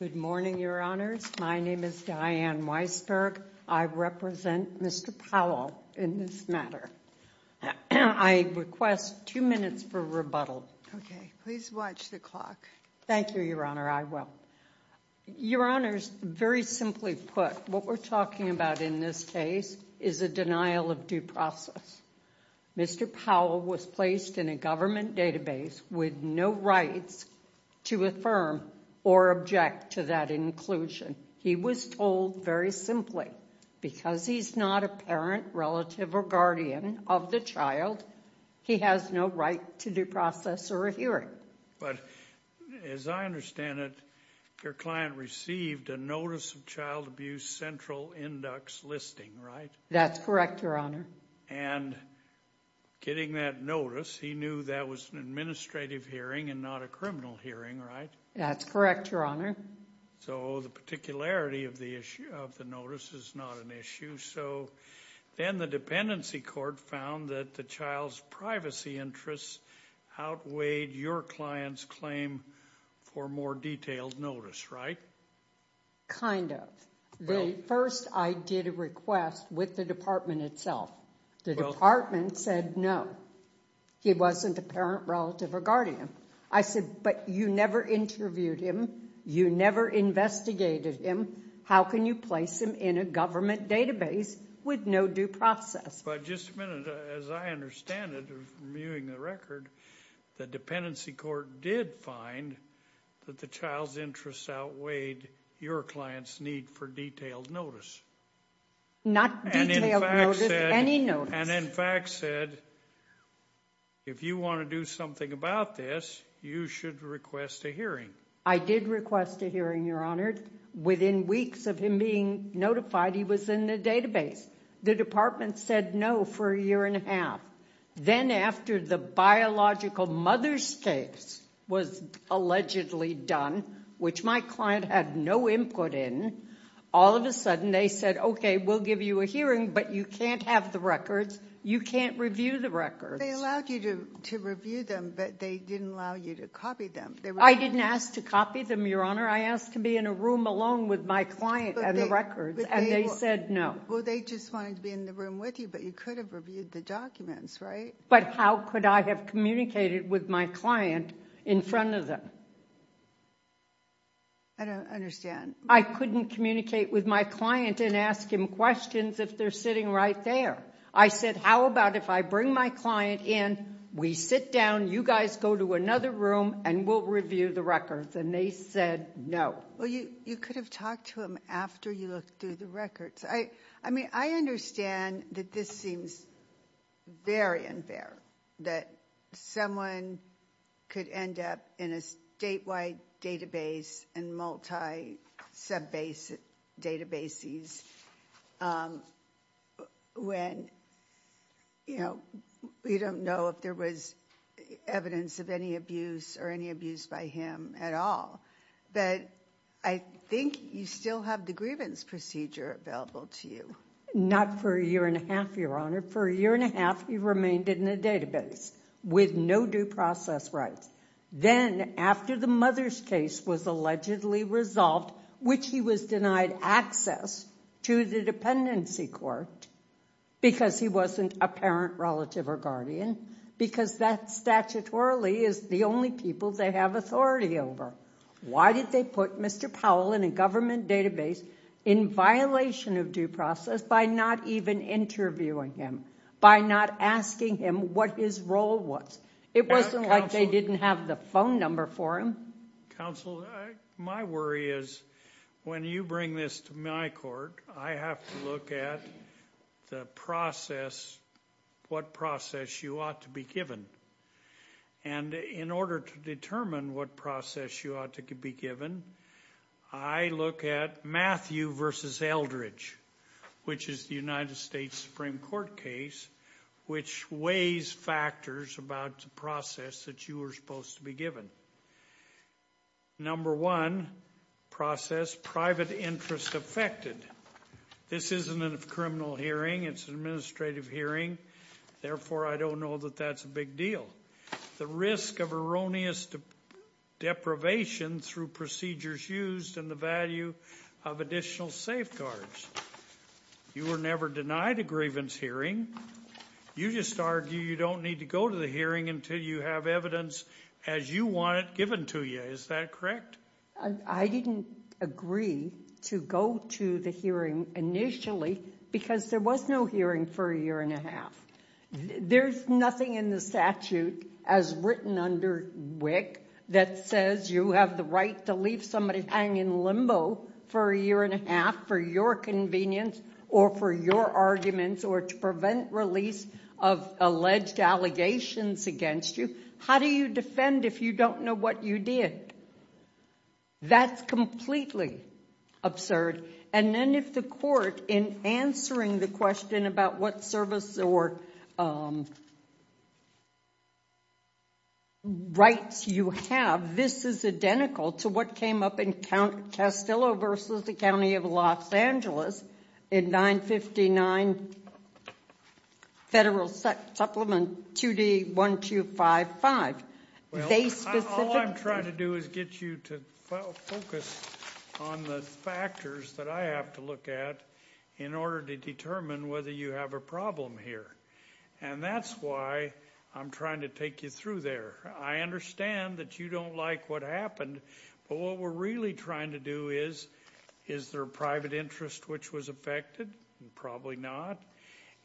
Good morning, Your Honors. My name is Diane Weissberg. I represent Mr. Powell in this matter. I request two minutes for rebuttal. Okay. Please watch the clock. Thank you, Your Honor. I will. Your Honors, very simply put, what we're talking about in this case is a denial of due process. Mr. Powell was placed in a government database with no rights to affirm or object to that inclusion. He was told, very simply, because he's not a parent, relative, or guardian of the child, he has no right to due process or a hearing. But as I understand it, your client received a Notice of Child Abuse Central Index listing, right? That's correct, Your Honor. And getting that notice, he knew that was an administrative hearing and not a criminal hearing, right? That's correct, Your Honor. So the particularity of the notice is not an issue. So then the Dependency Court found that the child's privacy interests outweighed your client's claim for more detailed notice, right? Kind of. First, I did a request with the department itself. The department said no. He wasn't a parent, relative, or guardian. I said, but you never interviewed him. You never investigated him. How can you place him in a government database with no due process? But just a minute. As I understand it, from viewing the record, the Dependency Court did find that the child's interests outweighed your client's need for detailed notice. Not detailed notice. Any notice. And in fact said, if you want to do something about this, you should request a hearing. I did request a hearing, Your Honor. Within weeks of him being notified, he was in the database. The department said no for a year and a half. Then after the biological mother's case was allegedly done, which my client had no input in, all of a sudden they said, okay, we'll give you a hearing, but you can't have the records. You can't review the records. They allowed you to review them, but they didn't allow you to copy them. I didn't ask to copy them, Your Honor. I asked to be in a room alone with my client and the records, and they said no. Well, they just wanted to be in the room with you, but you could have reviewed the documents, right? But how could I have communicated with my client in front of them? I don't understand. I couldn't communicate with my client and ask him questions if they're sitting right there. I said, how about if I bring my client in, we sit down, you guys go to another room, and we'll review the records, and they said no. Well, you could have talked to him after you looked through the records. I mean, I understand that this seems very unfair, that someone could end up in a statewide database and multi-sub-base databases when, you know, we don't know if there was evidence of any abuse or any abuse by him at all. But I think you still have the grievance procedure available to you. Not for a year and a half, Your Honor. For a year and a half, he remained in the database with no due process rights. Then, after the mother's case was allegedly resolved, which he was denied access to the dependency court because he wasn't a parent, relative, or guardian, because that statutorily is the only people they have authority over. Why did they put Mr. Powell in a government database in violation of due process by not even interviewing him, by not asking him what his role was? It wasn't like they didn't have the phone number for him. Counsel, my worry is when you bring this to my court, I have to look at the process, what process you ought to be given. And in order to determine what process you ought to be given, I look at Matthew v. Eldridge, which is the United States Supreme Court case, which weighs factors about the process that you were supposed to be given. Number one, process private interest affected. This isn't a criminal hearing. It's an administrative hearing. Therefore, I don't know that that's a big deal. The risk of erroneous deprivation through procedures used and the value of additional safeguards. You were never denied a grievance hearing. You just argue you don't need to go to the hearing until you have evidence as you want it given to you. Is that correct? I didn't agree to go to the hearing initially because there was no hearing for a year and a half. There's nothing in the statute as written under WIC that says you have the right to leave somebody hang in limbo for a year and a half for your convenience or for your arguments or to prevent release of alleged allegations against you. How do you defend if you don't know what you did? That's completely absurd. And then if the court, in answering the question about what service or rights you have, this is identical to what came up in Castillo v. The County of Los Angeles in 959 Federal Supplement 2D1255. All I'm trying to do is get you to focus on the factors that I have to look at in order to determine whether you have a problem here. And that's why I'm trying to take you through there. I understand that you don't like what happened, but what we're really trying to do is, is there a private interest which was affected? Probably not.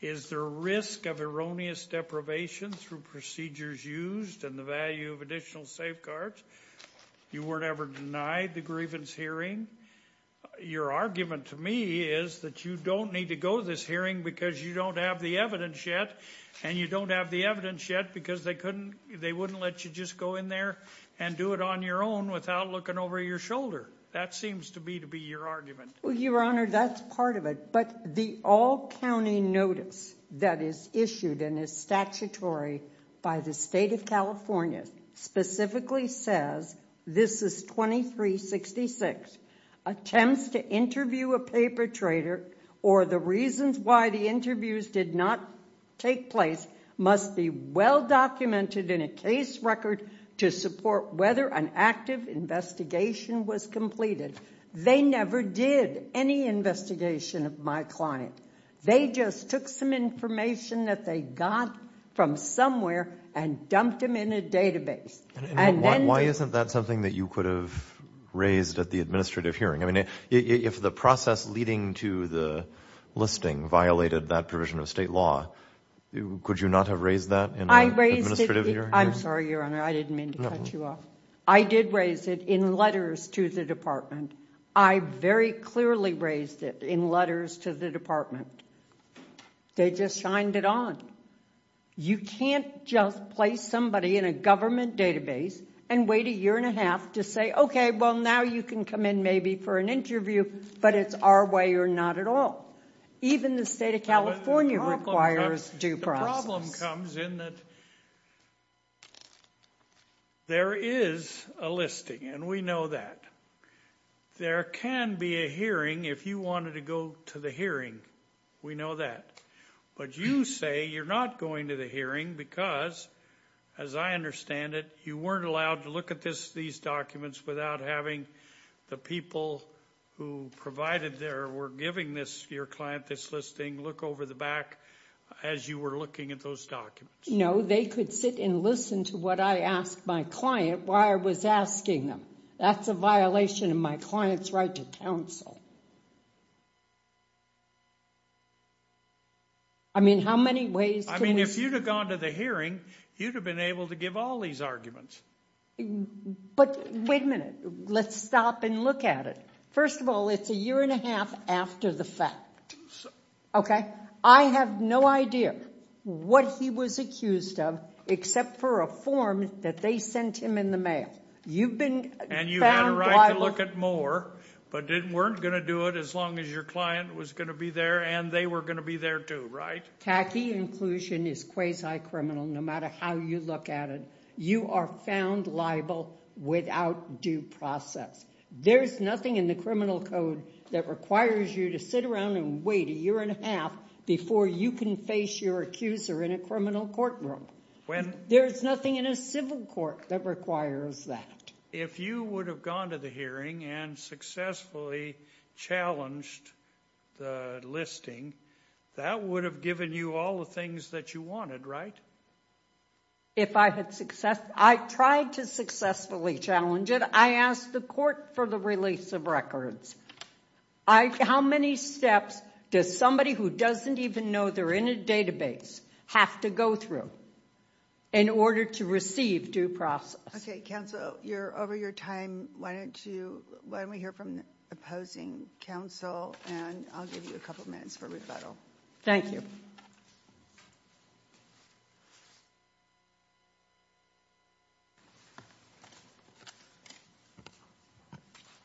Is there risk of erroneous deprivation through procedures used and the value of additional safeguards? You weren't ever denied the grievance hearing. Your argument to me is that you don't need to go to this hearing because you don't have the evidence yet and you don't have the evidence yet because they couldn't, they wouldn't let you just go in there and do it on your own without looking over your shoulder. That seems to be to be your argument. Well, Your Honor, that's part of it. But the all county notice that is issued and is statutory by the state of California specifically says this is 2366. Attempts to interview a paper trader or the reasons why the interviews did not take place must be well documented in a case record to support whether an active investigation was completed. They never did any investigation of my client. They just took some information that they got from somewhere and dumped them in a database. Why isn't that something that you could have raised at the administrative hearing? I mean, if the process leading to the listing violated that provision of state law, could you not have raised that in an administrative hearing? I raised it. I'm sorry, Your Honor, I didn't mean to cut you off. I did raise it in letters to the department. I very clearly raised it in letters to the department. They just shined it on. You can't just place somebody in a government database and wait a year and a half to say, okay, well, now you can come in maybe for an interview, but it's our way or not at all. Even the state of California requires due process. The problem comes in that there is a listing, and we know that. There can be a hearing if you wanted to go to the hearing. We know that. But you say you're not going to the hearing because, as I understand it, you weren't allowed to look at these documents without having the people who provided there were giving your client this listing look over the back as you were looking at those documents. No, they could sit and listen to what I asked my client while I was asking them. That's a violation of my client's right to counsel. I mean, how many ways can we – I mean, if you'd have gone to the hearing, you'd have been able to give all these arguments. But wait a minute. Let's stop and look at it. First of all, it's a year and a half after the fact. Okay? I have no idea what he was accused of except for a form that they sent him in the mail. And you had a right to look at more, but weren't going to do it as long as your client was going to be there, and they were going to be there too, right? TACI inclusion is quasi-criminal no matter how you look at it. You are found liable without due process. There's nothing in the criminal code that requires you to sit around and wait a year and a half before you can face your accuser in a criminal courtroom. There's nothing in a civil court that requires that. If you would have gone to the hearing and successfully challenged the listing, that would have given you all the things that you wanted, right? If I had successfully – I tried to successfully challenge it. I asked the court for the release of records. How many steps does somebody who doesn't even know they're in a database have to go through in order to receive due process? Okay, counsel, you're over your time. Why don't we hear from the opposing counsel, and I'll give you a couple minutes for rebuttal. Thank you.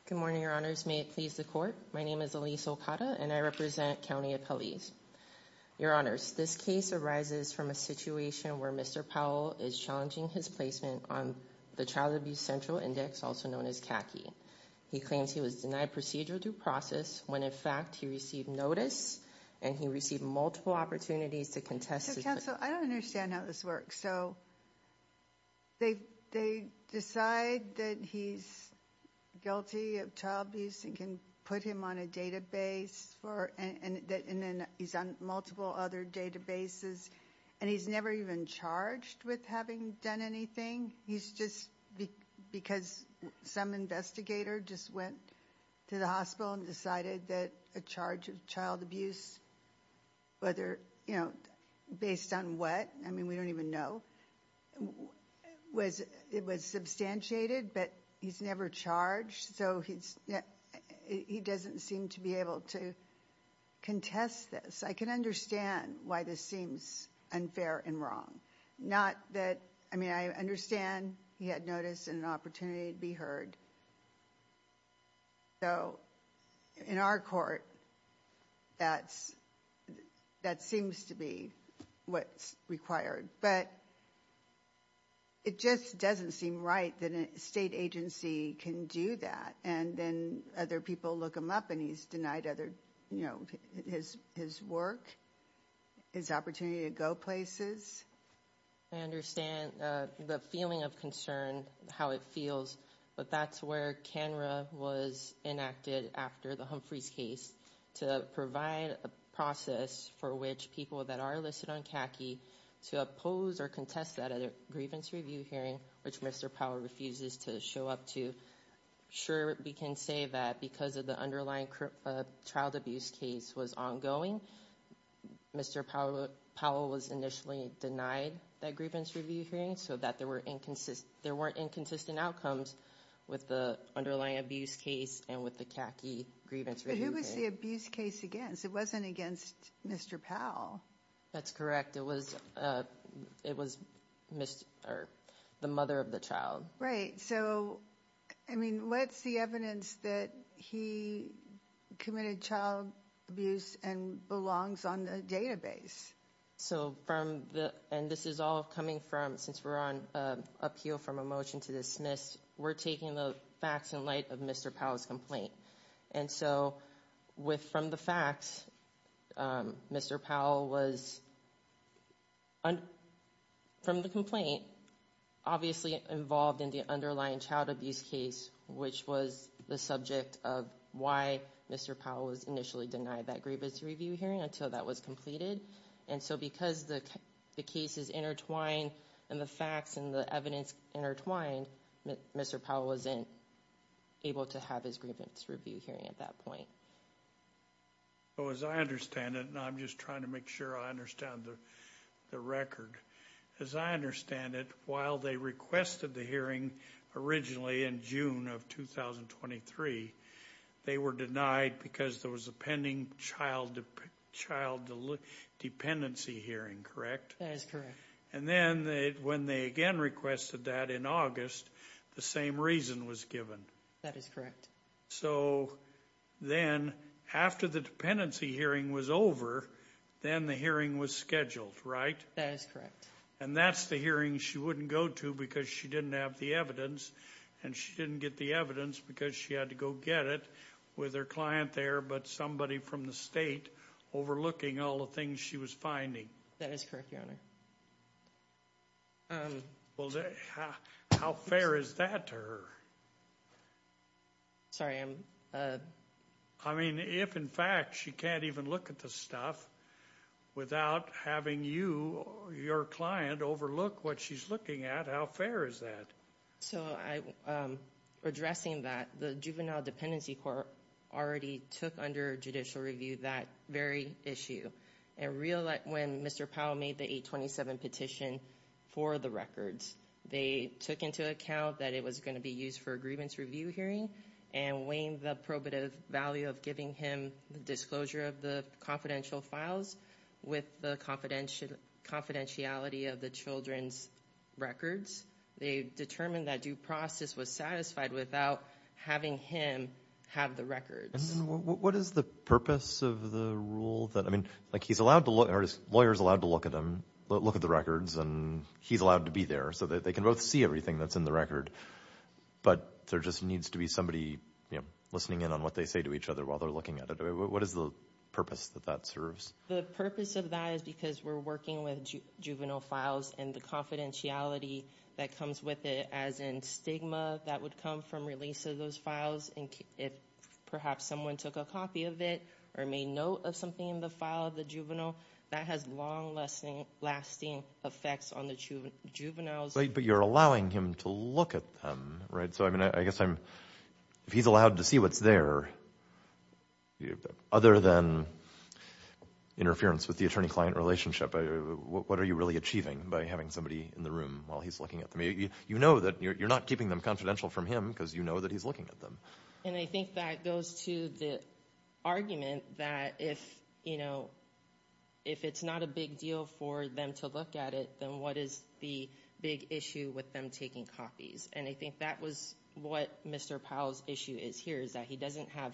Good morning, your honors. May it please the court. My name is Elise Okada, and I represent county appellees. Your honors, this case arises from a situation where Mr. Powell is challenging his placement on the Child Abuse Central Index, also known as CACI. He claims he was denied procedural due process when, in fact, he received notice and he received multiple opportunities to contest his claim. Counsel, I don't understand how this works. So they decide that he's guilty of child abuse and can put him on a database, and then he's on multiple other databases, and he's never even charged with having done anything? He's just because some investigator just went to the hospital and decided that a charge of child abuse, whether, you know, based on what? I mean, we don't even know. It was substantiated, but he's never charged, so he doesn't seem to be able to contest this. I can understand why this seems unfair and wrong. Not that, I mean, I understand he had notice and an opportunity to be heard. So in our court, that seems to be what's required. But it just doesn't seem right that a state agency can do that. And then other people look him up, and he's denied other, you know, his work, his opportunity to go places. I understand the feeling of concern, how it feels. But that's where CANRA was enacted after the Humphreys case to provide a process for which people that are listed on CACI to oppose or contest that grievance review hearing, which Mr. Powell refuses to show up to. Sure, we can say that because of the underlying child abuse case was ongoing, Mr. Powell was initially denied that grievance review hearing, so that there weren't inconsistent outcomes with the underlying abuse case and with the CACI grievance review hearing. But who was the abuse case against? It wasn't against Mr. Powell. That's correct. It was the mother of the child. Right. So, I mean, what's the evidence that he committed child abuse and belongs on the database? So from the, and this is all coming from, since we're on appeal from a motion to dismiss, we're taking the facts in light of Mr. Powell's complaint. And so from the facts, Mr. Powell was, from the complaint, obviously involved in the underlying child abuse case, which was the subject of why Mr. Powell was initially denied that grievance review hearing until that was completed. And so because the case is intertwined and the facts and the evidence intertwined, Mr. Powell wasn't able to have his grievance review hearing at that point. So as I understand it, and I'm just trying to make sure I understand the record, as I understand it, while they requested the hearing originally in June of 2023, they were denied because there was a pending child dependency hearing, correct? That is correct. And then when they again requested that in August, the same reason was given. That is correct. So then after the dependency hearing was over, then the hearing was scheduled, right? That is correct. And that's the hearing she wouldn't go to because she didn't have the evidence. And she didn't get the evidence because she had to go get it with her client there, but somebody from the state overlooking all the things she was finding. That is correct, Your Honor. How fair is that to her? Sorry, I'm... I mean, if in fact she can't even look at the stuff without having you, your client, overlook what she's looking at, how fair is that? So addressing that, the Juvenile Dependency Court already took under judicial review that very issue. And when Mr. Powell made the 827 petition for the records, they took into account that it was going to be used for a grievance review hearing and weighing the probative value of giving him the disclosure of the confidential files with the confidentiality of the children's records. They determined that due process was satisfied without having him have the records. What is the purpose of the rule that, I mean, like he's allowed to look, or his lawyer is allowed to look at them, look at the records, and he's allowed to be there so that they can both see everything that's in the record. But there just needs to be somebody, you know, listening in on what they say to each other while they're looking at it. What is the purpose that that serves? The purpose of that is because we're working with juvenile files and the confidentiality that comes with it, as in stigma that would come from release of those files. And if perhaps someone took a copy of it or made note of something in the file of the juvenile, that has long-lasting effects on the juveniles. But you're allowing him to look at them, right? So, I mean, I guess if he's allowed to see what's there, other than interference with the attorney-client relationship, what are you really achieving by having somebody in the room while he's looking at them? You know that you're not keeping them confidential from him because you know that he's looking at them. And I think that goes to the argument that if, you know, if it's not a big deal for them to look at it, then what is the big issue with them taking copies? And I think that was what Mr. Powell's issue is here is that he doesn't have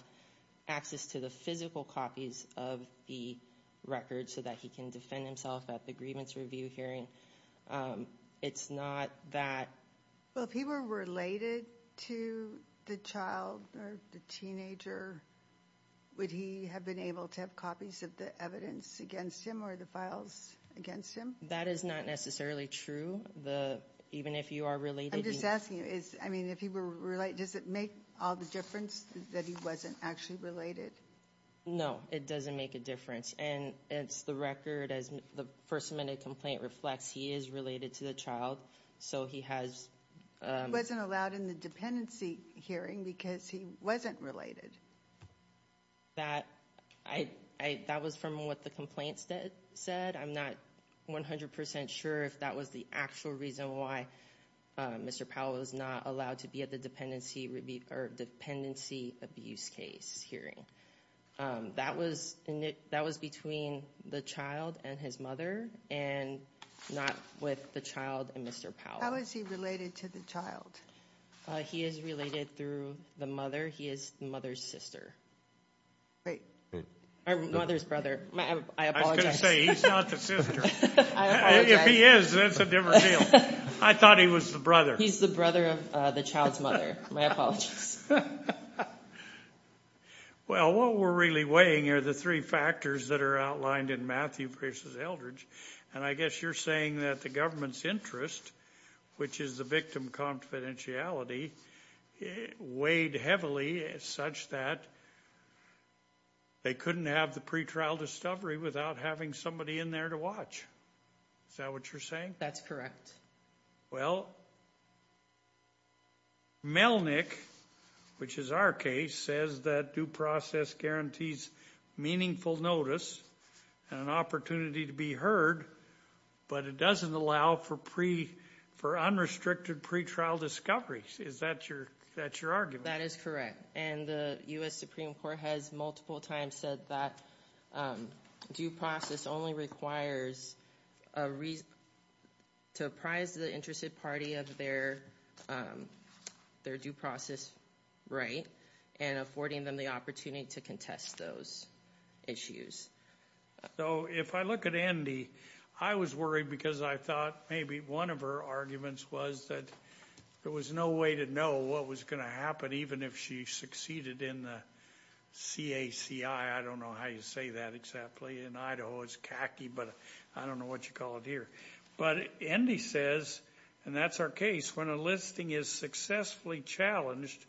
access to the physical copies of the record so that he can defend himself at the grievance review hearing. It's not that... Well, if he were related to the child or the teenager, would he have been able to have copies of the evidence against him or the files against him? That is not necessarily true. Even if you are related... I'm just asking you. I mean, if he were related, does it make all the difference that he wasn't actually related? No, it doesn't make a difference. And it's the record, as the first amendment complaint reflects, he is related to the child. So he has... He wasn't allowed in the dependency hearing because he wasn't related. That was from what the complaint said. I'm not 100% sure if that was the actual reason why Mr. Powell was not allowed to be at the dependency abuse case hearing. That was between the child and his mother and not with the child and Mr. Powell. How is he related to the child? He is related through the mother. He is the mother's sister. Or mother's brother. I apologize. I was going to say, he's not the sister. If he is, that's a different deal. I thought he was the brother. He's the brother of the child's mother. My apologies. Well, what we're really weighing are the three factors that are outlined in Matthew Pierce's Eldridge. And I guess you're saying that the government's interest, which is the victim confidentiality, weighed heavily such that they couldn't have the pretrial discovery without having somebody in there to watch. Is that what you're saying? That's correct. Well, Melnick, which is our case, says that due process guarantees meaningful notice and an opportunity to be heard, but it doesn't allow for unrestricted pretrial discoveries. Is that your argument? That is correct. And the U.S. Supreme Court has multiple times said that due process only requires to apprise the interested party of their due process right and affording them the opportunity to contest those issues. So if I look at Andy, I was worried because I thought maybe one of her arguments was that there was no way to know what was going to happen, even if she succeeded in the CACI. I don't know how you say that exactly. In Idaho it's CACI, but I don't know what you call it here. But Andy says, and that's our case, when a listing is successfully challenged,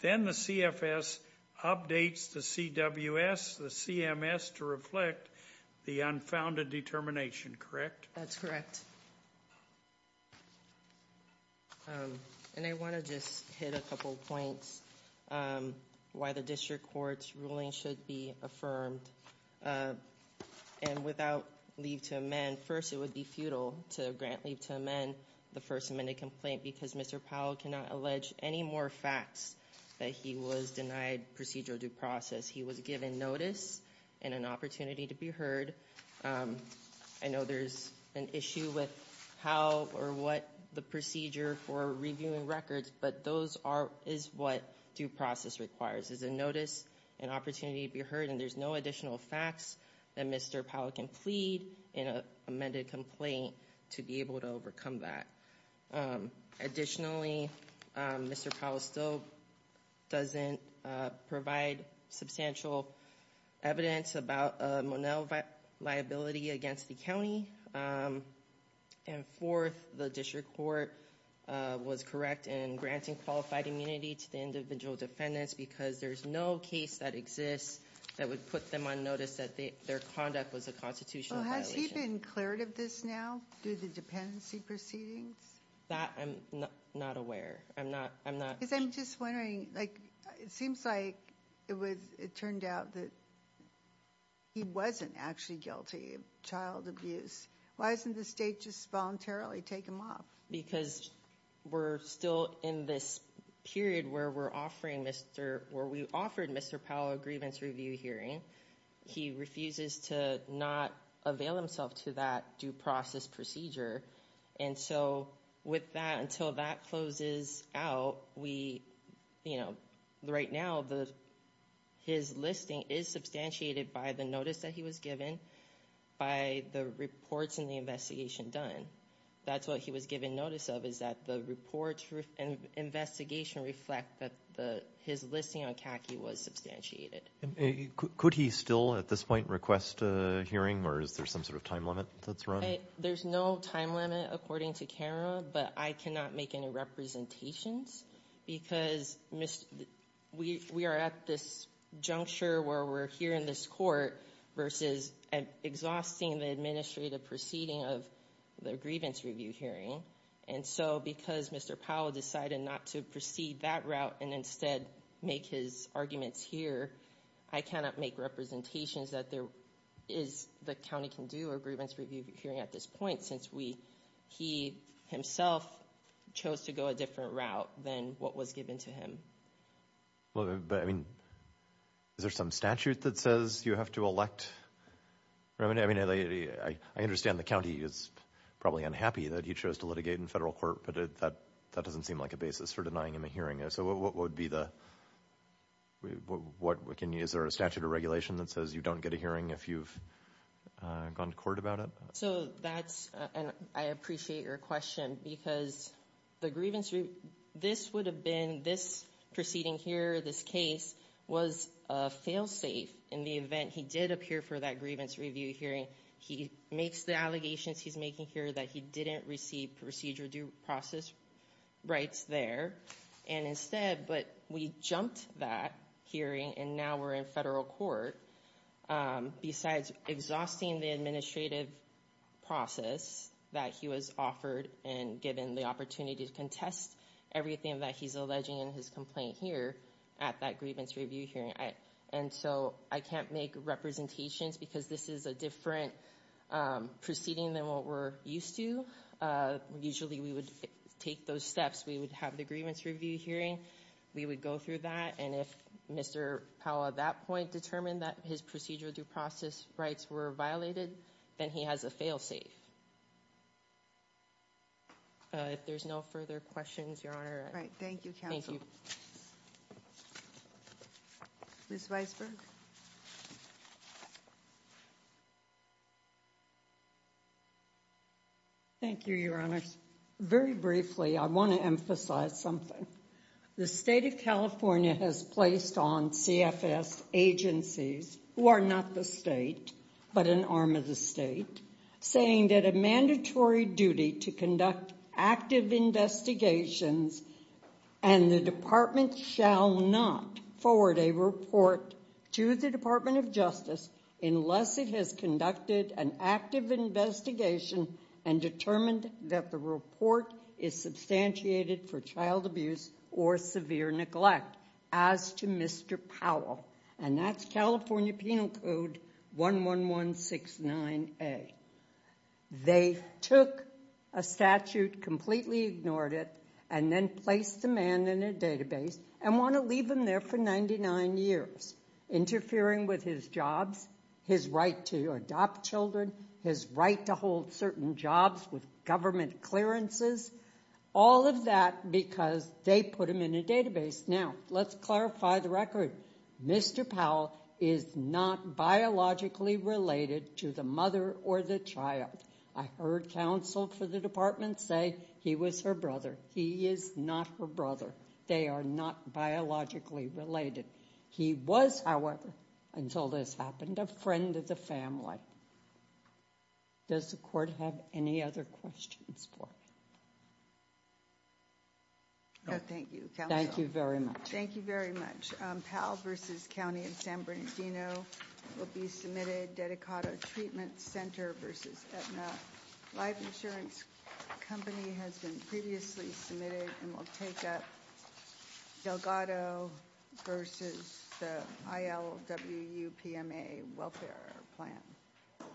then the CFS updates the CWS, the CMS, to reflect the unfounded determination, correct? That's correct. And I want to just hit a couple points why the district court's ruling should be affirmed. And without leave to amend, first it would be futile to grant leave to amend the first amendment complaint because Mr. Powell cannot allege any more facts that he was denied procedural due process. He was given notice and an opportunity to be heard. I know there's an issue with how or what the procedure for reviewing records, but those is what due process requires is a notice and opportunity to be heard. And there's no additional facts that Mr. Powell can plead in an amended complaint to be able to overcome that. Additionally, Mr. Powell still doesn't provide substantial evidence about a Monell liability against the county. And fourth, the district court was correct in granting qualified immunity to the individual defendants because there's no case that exists that would put them on notice that their conduct was a constitutional violation. Has he been cleared of this now through the dependency proceedings? That I'm not aware. I'm not. Because I'm just wondering, it seems like it turned out that he wasn't actually guilty of child abuse. Why doesn't the state just voluntarily take him off? Because we're still in this period where we offered Mr. Powell a grievance review hearing. He refuses to not avail himself to that due process procedure. And so with that, until that closes out, we, you know, right now, his listing is substantiated by the notice that he was given by the reports in the investigation done. That's what he was given notice of is that the report and investigation reflect that his listing on khaki was substantiated. Could he still at this point request a hearing or is there some sort of time limit that's run? There's no time limit according to camera, but I cannot make any representations because we are at this juncture where we're here in this court versus exhausting the administrative proceeding of the grievance review hearing. And so because Mr. Powell decided not to proceed that route and instead make his arguments here, I cannot make representations that there is the county can do a grievance review hearing at this point, since we he himself chose to go a different route than what was given to him. But I mean, is there some statute that says you have to elect? I mean, I understand the county is probably unhappy that he chose to litigate in federal court, but that doesn't seem like a basis for denying him a hearing. So what would be the what we can use or a statute of regulation that says you don't get a hearing if you've gone to court about it? So that's and I appreciate your question because the grievance, this would have been this proceeding here. This case was a fail safe in the event he did appear for that grievance review hearing. He makes the allegations he's making here that he didn't receive procedure due process rights there. And instead, but we jumped that hearing and now we're in federal court. Besides exhausting the administrative process that he was offered and given the opportunity to contest everything that he's alleging in his complaint here at that grievance review hearing. And so I can't make representations because this is a different proceeding than what we're used to. Usually we would take those steps. We would have the grievance review hearing. We would go through that. And if Mr. Powell at that point determined that his procedure due process rights were violated, then he has a fail safe. If there's no further questions, your honor. Thank you. Ms. Weisberg. Thank you, your honor. Very briefly, I want to emphasize something. The state of California has placed on CFS agencies who are not the state, but an arm of the state. Saying that a mandatory duty to conduct active investigations and the department shall not forward a report to the Department of Justice unless it has conducted an active investigation and determined that the report is substantiated for child abuse or severe neglect as to Mr. Powell. And that's California Penal Code 11169A. They took a statute, completely ignored it, and then placed the man in a database and want to leave him there for 99 years. Interfering with his jobs, his right to adopt children, his right to hold certain jobs with government clearances. All of that because they put him in a database. Now, let's clarify the record. Mr. Powell is not biologically related to the mother or the child. I heard counsel for the department say he was her brother. He is not her brother. They are not biologically related. He was, however, until this happened, a friend of the family. Does the court have any other questions for me? Thank you, counsel. Thank you very much. Thank you very much. Powell v. County and San Bernardino will be submitted. Dedicado Treatment Center v. Aetna Life Insurance Company has been previously submitted and will take up. Delgado v. ILWPMA Welfare Plan.